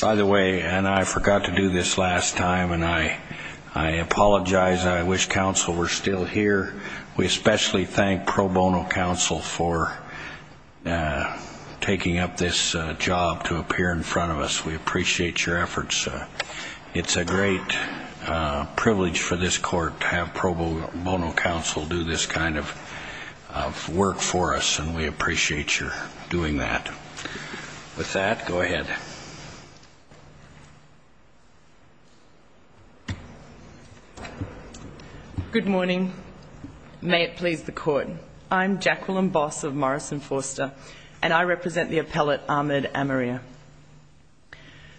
By the way, I forgot to do this last time and I apologize. I wish counsel were still here. We especially thank pro bono counsel for taking up this job to appear in front of us. We appreciate your efforts. It's a great privilege for this court to have pro for us and we appreciate your doing that. With that, go ahead. Good morning. May it please the court. I'm Jacqueline Boss of Morris & Forster and I represent the appellate, Ahmed Amarir.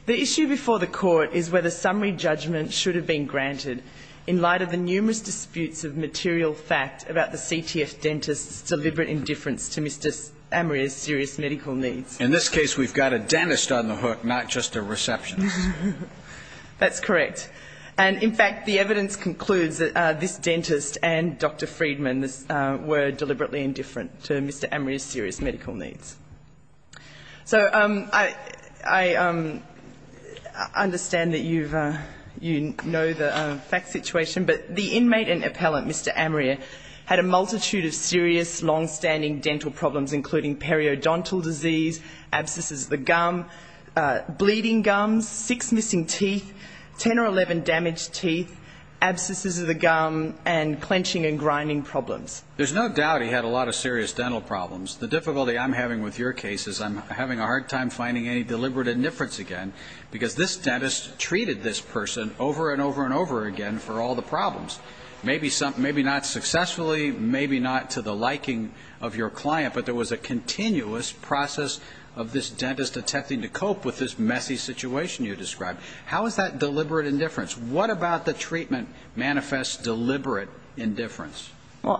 The issue before the court is whether summary judgment should have been granted in light of the numerous disputes of material fact about the CTF dentists' deliberate indifference to Mr. Amarir's serious medical needs. In this case, we've got a dentist on the hook, not just a receptionist. That's correct. In fact, the evidence concludes that this dentist and Dr. Friedman were deliberately indifferent to Mr. Amarir's serious medical needs. I understand that you know the fact situation, but the inmate and appellant, Mr. Amarir, had a multitude of serious, longstanding dental problems including periodontal disease, abscesses of the gum, bleeding gums, six missing teeth, ten or eleven damaged teeth, abscesses of the gum, and clenching and grinding problems. There's no doubt he had a lot of serious dental problems. The difficulty I'm having with your case is I'm having a hard time finding any deliberate indifference again because this are all the problems. Maybe not successfully, maybe not to the liking of your client, but there was a continuous process of this dentist attempting to cope with this messy situation you described. How is that deliberate indifference? What about the treatment manifests deliberate indifference?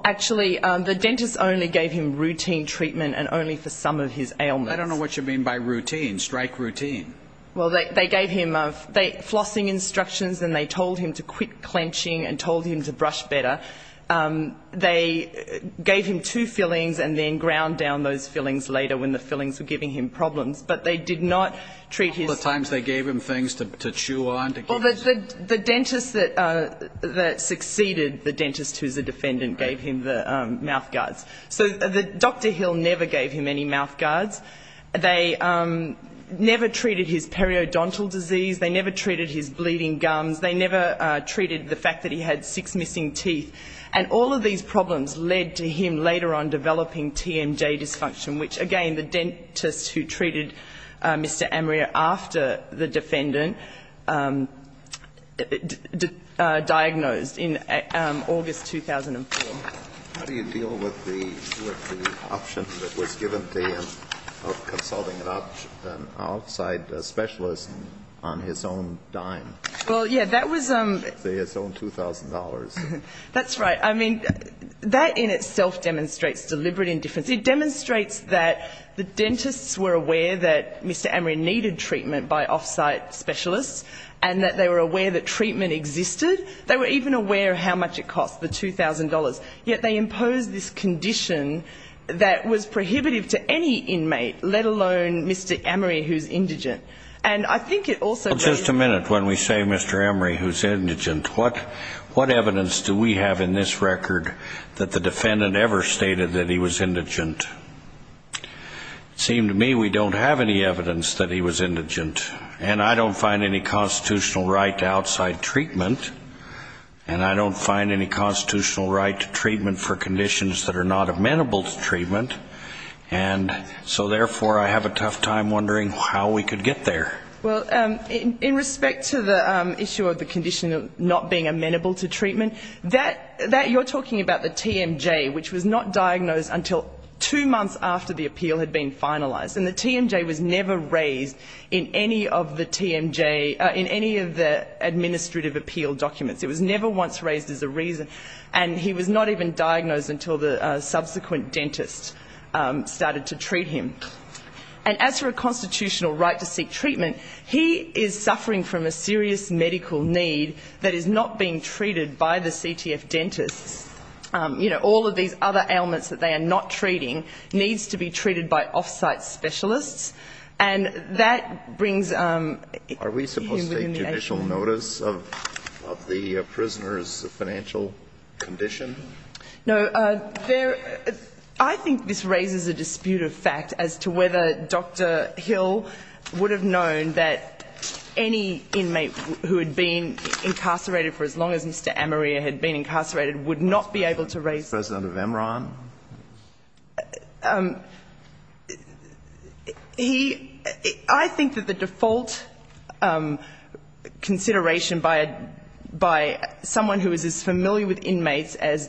Actually, the dentist only gave him routine treatment and only for some of his ailments. I don't know what you mean by routine, strike routine. They gave him flossing instructions and they told him to quit clenching and told him to brush better. They gave him two fillings and then ground down those fillings later when the fillings were giving him problems, but they did not treat his... All the times they gave him things to chew on, to... Well, the dentist that succeeded the dentist who's a defendant gave him the mouthguards. So Dr. Hill never gave him any mouthguards. They never treated his periodontal disease. They never treated his bleeding gums. They never treated the fact that he had six missing teeth. And all of these problems led to him later on developing TMJ dysfunction, which again the dentist who treated Mr. Amria after the defendant diagnosed in August 2004. How do you deal with the option that was given to him of consulting an outside specialist on his own dime? Well, yeah, that was... His own $2,000. That's right. I mean, that in itself demonstrates deliberate indifference. It demonstrates that the dentists were aware that Mr. Amria needed treatment by offsite specialists and that they were aware that treatment existed. They were even aware of how much it cost, the $2,000, yet they imposed this condition that was prohibitive to any inmate, let alone Mr. Amria who's indigent. And I think it also... Just a minute. When we say Mr. Amria who's indigent, what evidence do we have in this record that the defendant ever stated that he was indigent? It seemed to me we don't have any evidence that he was indigent. And I don't find any constitutional right to outside treatment. And I don't find any constitutional right to treatment for conditions that are not amenable to treatment. And so therefore I have a tough time wondering how we could get there. Well, in respect to the issue of the condition not being amenable to treatment, that you're talking about the TMJ, which was not diagnosed until two months after the appeal had been finalized. And the TMJ was never raised in any of the TMJ... In any of the administrative appeal documents. It was never once raised as a reason. And he was not even diagnosed until the subsequent dentist started to treat him. And as for a constitutional right to seek treatment, he is suffering from a serious medical need that is not being treated by the CTF dentists. You know, all of these other ailments that they are not treating needs to be treated by off-site specialists. And that brings... Are we supposed to take judicial notice of the prisoner's financial condition? No. There... I think this raises a dispute of fact as to whether Dr. Hill would have known that any inmate who had been incarcerated for as long as Mr. Amaria had been incarcerated would not be able to raise... President of MRAN? He... I think that the default consideration by a... by someone who is as familiar with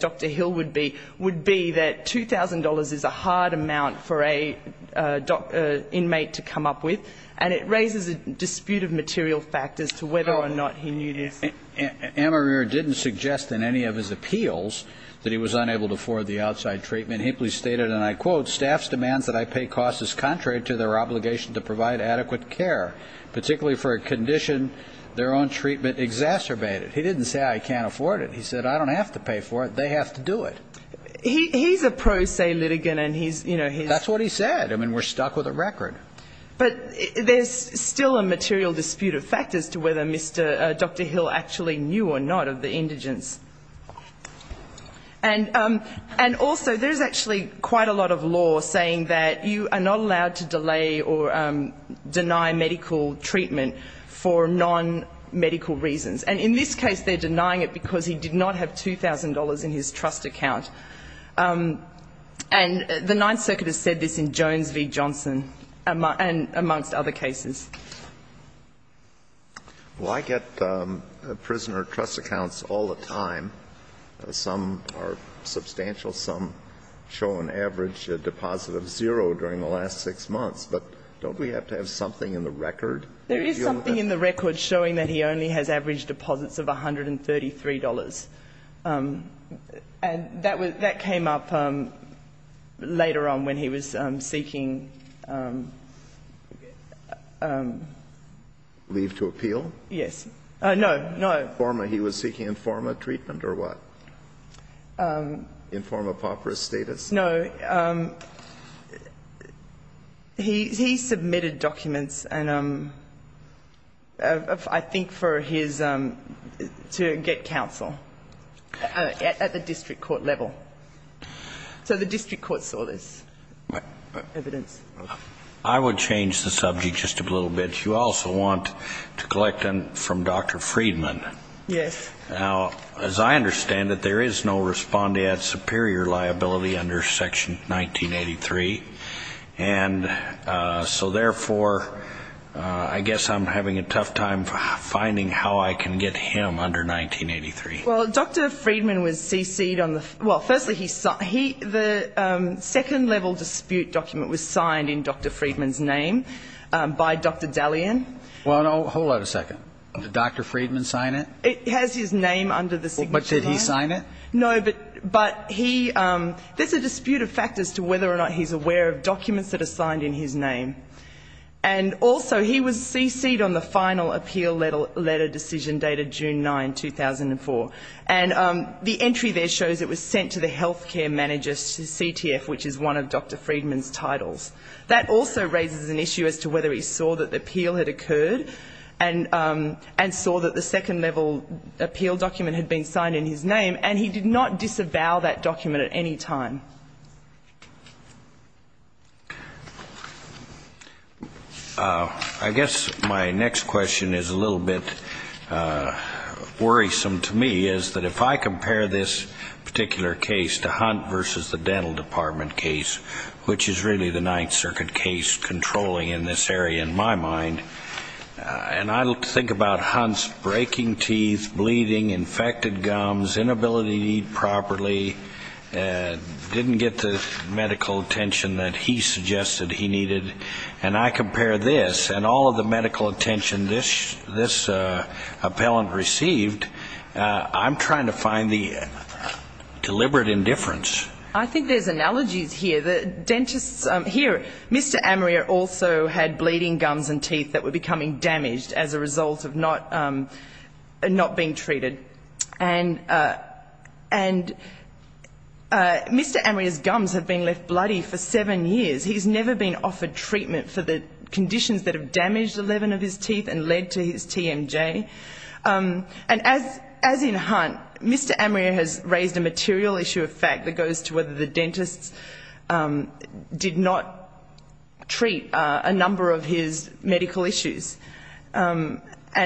Dr. Hill would be, would be that $2,000 is a hard amount for an inmate to come up with. And it raises a dispute of material fact as to whether or not he knew this. Amaria didn't suggest in any of his appeals that he was unable to afford the outside treatment. He simply stated, and I quote, staff's demands that I pay costs is contrary to their obligation to provide adequate care, particularly for a condition their own treatment exacerbated. He didn't say I can't afford it. He said I don't have to pay for it. They have to do it. He's a pro se litigant and he's, you know, he's... That's what he said. I mean, we're stuck with a record. But there's still a material dispute of fact as to whether Mr... Dr. Hill actually knew or not of the indigence. And also, there's actually quite a lot of law saying that you are not allowed to delay or deny medical treatment for non-medical reasons. And in this case, they're denying it because he did not have $2,000 in his trust account. And the Ninth Circuit has said this in Jones v. Johnson, and amongst other cases. Well, I get prisoner trust accounts all the time. Some are substantial. Some show an average deposit of zero during the last six months. But don't we have to have something in the record? There is something in the record showing that he only has average deposits of $133. And that came up later on when he was seeking... Leave to appeal? Yes. No, no. He was seeking informa treatment or what? Informa pauperis status? No. He submitted documents, I think, for his... to get counsel at the district court level. So the district court saw this evidence. I would change the subject just a little bit. You also want to collect from Dr. Friedman. Yes. Now, as I understand it, there is no respondeat superior liability under Section 1983. And so therefore, I guess I'm having a tough time finding how I can get him under 1983. Well, Dr. Friedman was cc'd on the... Well, firstly, he... The second level dispute document was signed in Dr. Friedman's name by Dr. Dalian. Well, no. Hold on a second. Did Dr. Friedman sign it? It has his name under the signature. But did he sign it? No, but he... There's a dispute of factors to whether or not he's aware of documents that are signed in his name. And also, he was cc'd on the final appeal letter decision dated June 9, 2004. And the entry there shows it was sent to the health care manager's CTF, which is one of Dr. Friedman's titles. That also raises an issue as to whether he saw that the appeal had occurred and saw that the second level appeal document had been signed in his name. And he did not disavow that document at any time. I guess my next question is a little bit worrisome to me, is that if I compare this particular case to Hunt v. The Dental Department case, which is really the Ninth Circuit case controlling in this area, in my mind, and I think about Hunt's breaking teeth, bleeding, infected gums, inability to eat properly, didn't get the medical attention that he suggested he needed, and I compare this and all of the medical attention this appellant received, I'm trying to find the deliberate indifference. I think there's analogies here. The dentists here, Mr. Amaria also had bleeding gums and teeth that were becoming damaged as a result of not being treated. And Mr. Amaria's gums have been left bloody for seven years. He's never been offered treatment for the conditions that have damaged 11 of his teeth and led to his TMJ. And as in Hunt, Mr. Amaria has raised a material issue of fact that goes to whether the dentists did not treat a number of his medical issues. And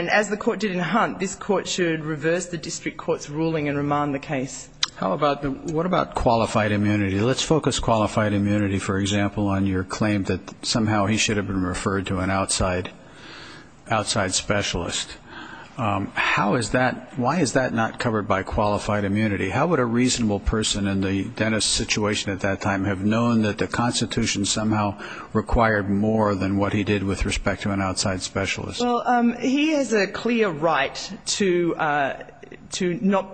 as the court did in Hunt, this court should reverse the district court's ruling and remand the case. What about qualified immunity? Let's focus qualified immunity, for example, on your claim that somehow he should have been referred to an outside specialist. How is that, why is that not covered by qualified immunity? How would a reasonable person in the dentist's situation at that time have known that the Constitution somehow required more than what he did with respect to an outside specialist? Well, he has a clear right to not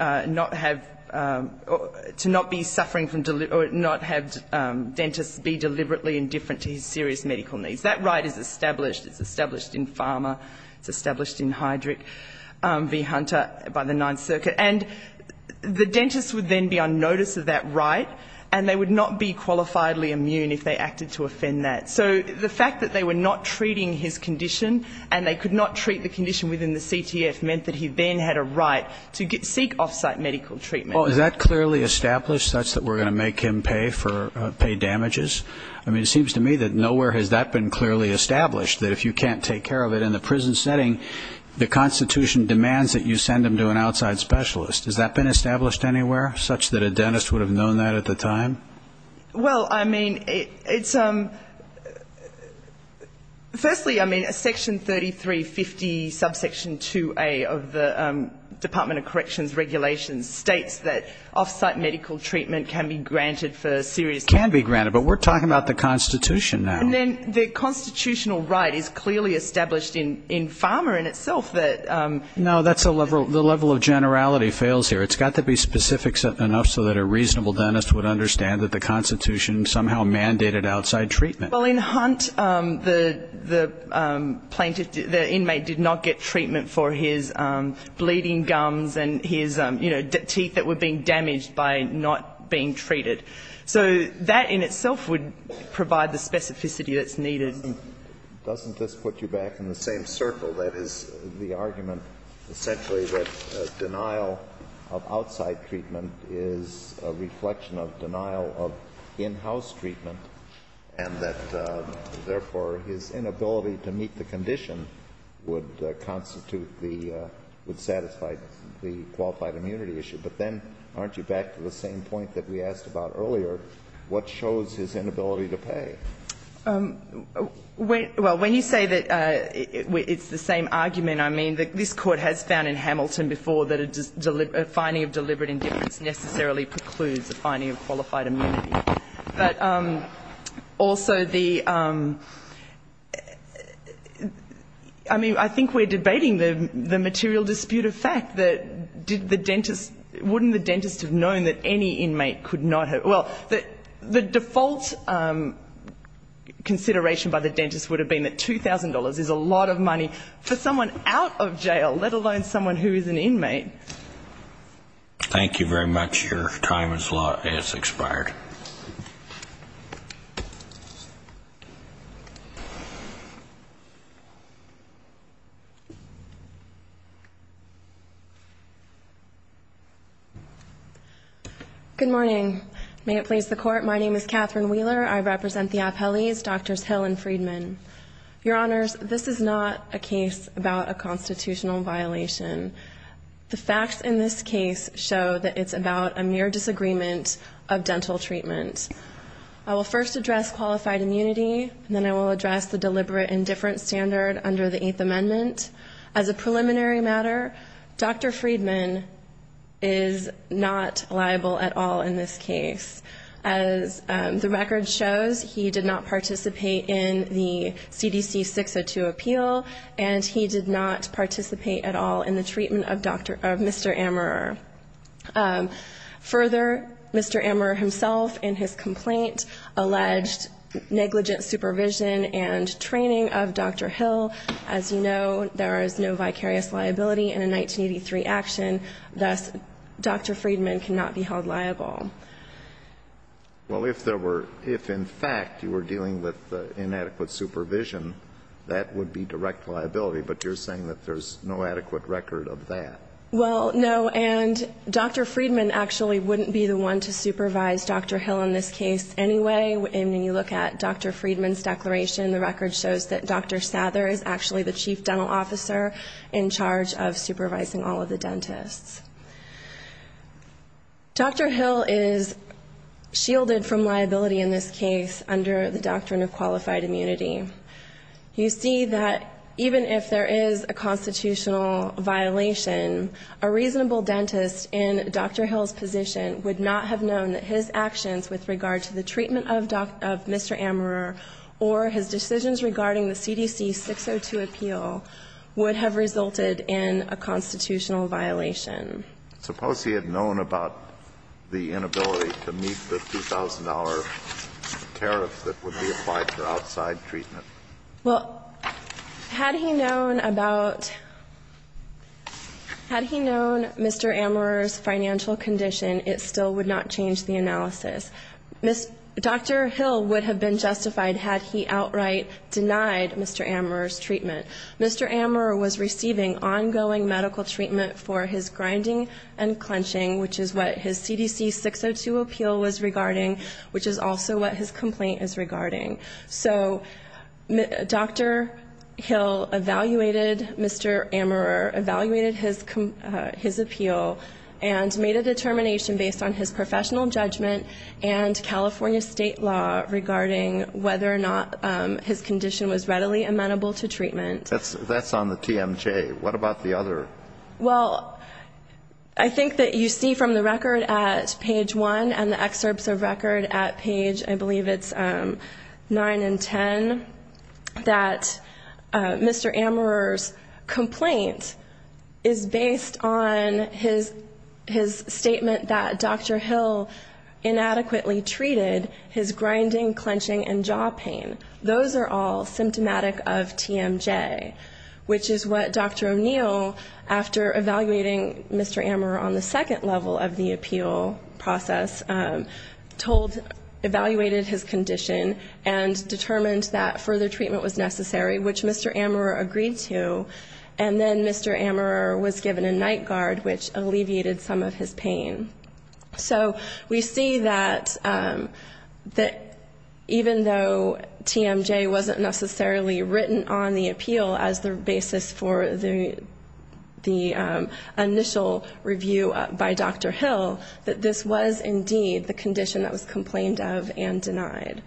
have, to not be suffering from, or not have dentists be deliberately indifferent to his serious medical needs. That right is established, it's established in Pharma, it's established in Hydric, v. Hunter, by the Ninth Circuit. And the dentist would then be on notice of that right, and they would not be qualifiably immune if they acted to offend that. So the fact that they were not treating his condition and they could not treat the condition within the CTF meant that he then had a right to seek off-site medical treatment. Well, is that clearly established, that's that we're going to make him pay for, pay if you can't take care of it in the prison setting, the Constitution demands that you send him to an outside specialist. Has that been established anywhere, such that a dentist would have known that at the time? Well, I mean, it's, firstly, I mean, Section 3350, subsection 2A of the Department of Corrections Regulations states that off-site medical treatment can be granted for serious Can be granted, but we're talking about the Constitution now. And then the constitutional right is clearly established in Pharma in itself that No, that's a level, the level of generality fails here. It's got to be specific enough so that a reasonable dentist would understand that the Constitution somehow mandated outside treatment. Well, in Hunt, the plaintiff, the inmate did not get treatment for his bleeding gums and his, you know, teeth that were being damaged by not being treated. So that in itself would provide the specificity that's needed. Doesn't this put you back in the same circle? That is, the argument essentially that denial of outside treatment is a reflection of denial of in-house treatment and that, therefore, his inability to meet the condition would constitute the, would satisfy the qualified immunity issue. But then, aren't you back to the same point about the inability to pay? Well, when you say that it's the same argument, I mean, this Court has found in Hamilton before that a finding of deliberate indifference necessarily precludes a finding of qualified immunity. But also the, I mean, I think we're debating the material dispute of fact that did the dentist, wouldn't the dentist have known that any inmate could not have, well, the default consideration by the dentist would have been that $2,000 is a lot of money for someone out of jail, let alone someone who is an inmate. Thank you very much. Your time has expired. Good morning. May it please the Court, my name is Catherine Wheeler. I represent the Appellees, Drs. Hill and Friedman. Your Honors, this is not a case about a constitutional violation. The facts in this case show that it's about a mere disagreement of dental treatment. I will first address qualified immunity, and then I will address the deliberate indifference standard under the Eighth Amendment. As a preliminary matter, Dr. Friedman is not liable at all in this case. As the record shows, he did not participate in the CDC 602 appeal, and he did not participate at all in the treatment of Mr. Amerer. Further, Mr. Amerer himself in his complaint alleged negligent supervision and training of Dr. Hill. As you know, there is no vicarious liability in a 1983 action. Thus, Dr. Friedman cannot be held liable. Well, if there were, if in fact you were dealing with inadequate supervision, that would be direct liability, but you're saying that there's no adequate record of that. Well, no, and Dr. Friedman actually wouldn't be the one to supervise Dr. Hill in this case anyway. And when you look at Dr. Friedman's declaration, the record shows that Dr. Sather is actually the chief dental officer in charge of supervising all of the dentists. Dr. Hill is shielded from liability in this case under the doctrine of qualified immunity. You see that even if there is a constitutional violation, a reasonable dentist in Dr. Hill's position would not have known that his actions with regard to the treatment of Mr. Amerer or his decisions regarding the CDC 602 appeal would have resulted in a constitutional violation. Suppose he had known about the inability to meet the $2,000 tariff that would be applied for outside treatment. Well, had he known about, had he known Mr. Amerer's financial condition, it still would not change the analysis. Dr. Hill would have been justified had he outright denied Mr. Amerer's treatment. Mr. Amerer was receiving ongoing medical treatment for his grinding and clenching, which is what his CDC 602 appeal was regarding, which is also what his complaint is regarding. So Dr. Hill evaluated Mr. Amerer, evaluated his appeal, and made a determination based on his professional judgment and California state law regarding whether or not his condition was readily amenable to treatment. That's on the TMJ. What about the other? Well, I think that you see from the record at page 1 and the excerpts of record at page, I believe it's 9 and 10, that Mr. Amerer's complaint is based on his statement that Dr. Hill inadequately treated his grinding, clenching, and jaw pain. Those are all symptomatic of TMJ, which is what Dr. O'Neill, after evaluating Mr. Amerer on the second level of the appeal process, told, evaluated his condition and determined that further treatment was necessary, which Mr. Amerer agreed to, and then Mr. Amerer was given a night guard, which alleviated some of his pain. So we see that even though TMJ wasn't necessarily written on the appeal as the basis for the initial review by Dr. Hill, that this was indeed the condition that was complained of and denied.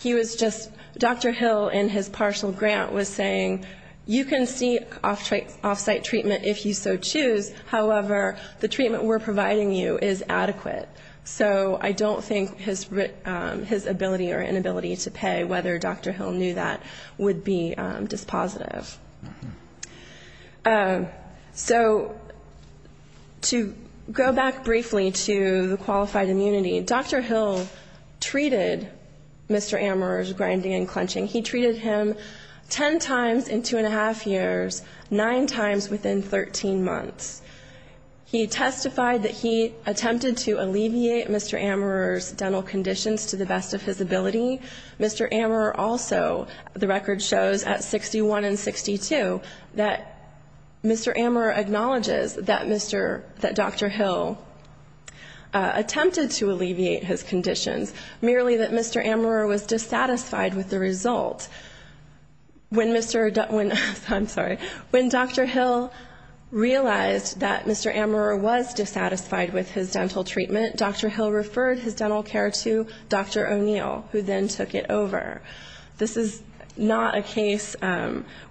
He was just, Dr. Hill in his partial grant was saying, you can seek off-site treatment if you so choose. However, the treatment we're providing you is adequate. So I don't think his ability or inability to pay, whether Dr. Hill knew that, would be dispositive. So to go back briefly to the qualified immunity, Dr. Hill treated Mr. Amerer's grinding and clenching. He treated him 10 times in two and a half years, nine times within 13 months. He testified that he attempted to alleviate Mr. Amerer's dental conditions to the best of his ability. Mr. Amerer also, the record shows at 61 and 62, that Mr. Amerer acknowledges that Dr. Hill attempted to alleviate his conditions, merely that Mr. Amerer was dissatisfied with the result. When Dr. Hill realized that Mr. Amerer was dissatisfied with his dental treatment, Dr. Hill referred his dental care to Dr. O'Neill, who then took it over. This is not a case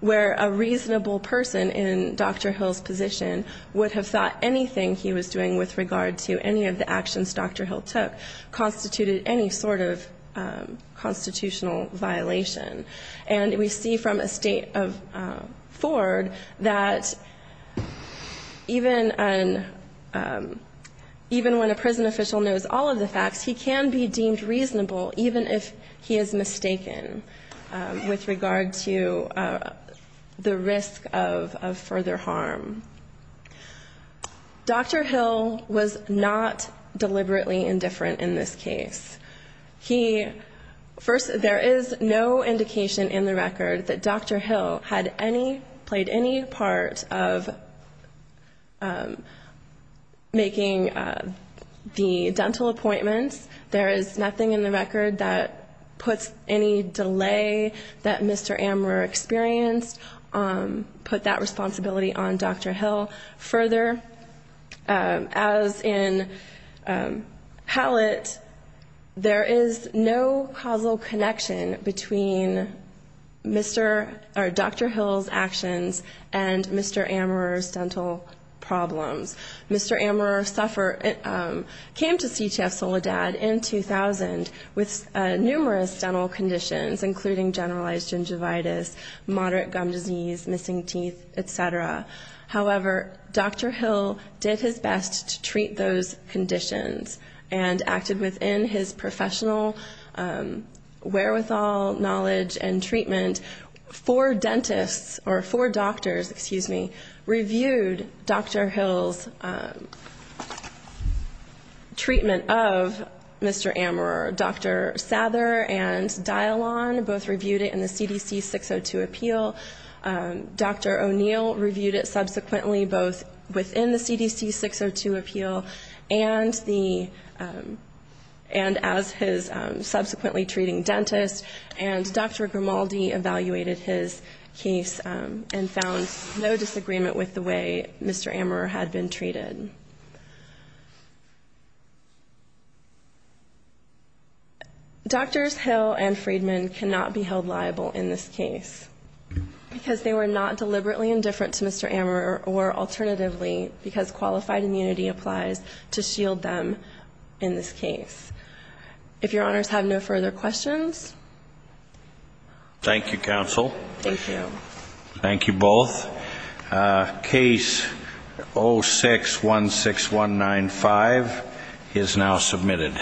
where a reasonable person in Dr. Hill's position would have thought anything he was doing with regard to any of the actions Dr. Hill took that constituted any sort of constitutional violation. And we see from a state of Ford that even when a prison official knows all of the facts, he can be deemed reasonable, even if he is mistaken with regard to the risk of further harm. Dr. Hill was not deliberately indifferent in this case. He, first, there is no indication in the record that Dr. Hill had any, played any part of making the dental appointments. There is nothing in the record that puts any delay that Mr. Amerer experienced, put that responsibility on Dr. Hill. Further, as in Hallett, there is no causal connection between Mr. or Dr. Hill's actions and Mr. Amerer's dental problems. Mr. Amerer suffered, came to CTF Soledad in 2000 with numerous dental conditions, including generalized gingivitis, moderate gum disease, missing teeth, et cetera. However, Dr. Hill did his best to treat those conditions and acted within his professional wherewithal, knowledge, and treatment. Four dentists, or four doctors, excuse me, reviewed Dr. Hill's treatment of Mr. Amerer. Dr. Sather and Dialon both reviewed it in the CDC 602 appeal. Dr. O'Neill reviewed it subsequently both within the CDC 602 appeal and the, and as his subsequently treating dentist. And Dr. Grimaldi evaluated his case and found no disagreement with the way Mr. Amerer had been treated. Doctors Hill and Friedman cannot be held liable in this case, because they were not deliberately indifferent to Mr. Amerer, or alternatively, because qualified immunity applies to shield them in this case. If your honors have no further questions. Thank you, counsel. Thank you. Thank you both. Case 0616195 is now submitted.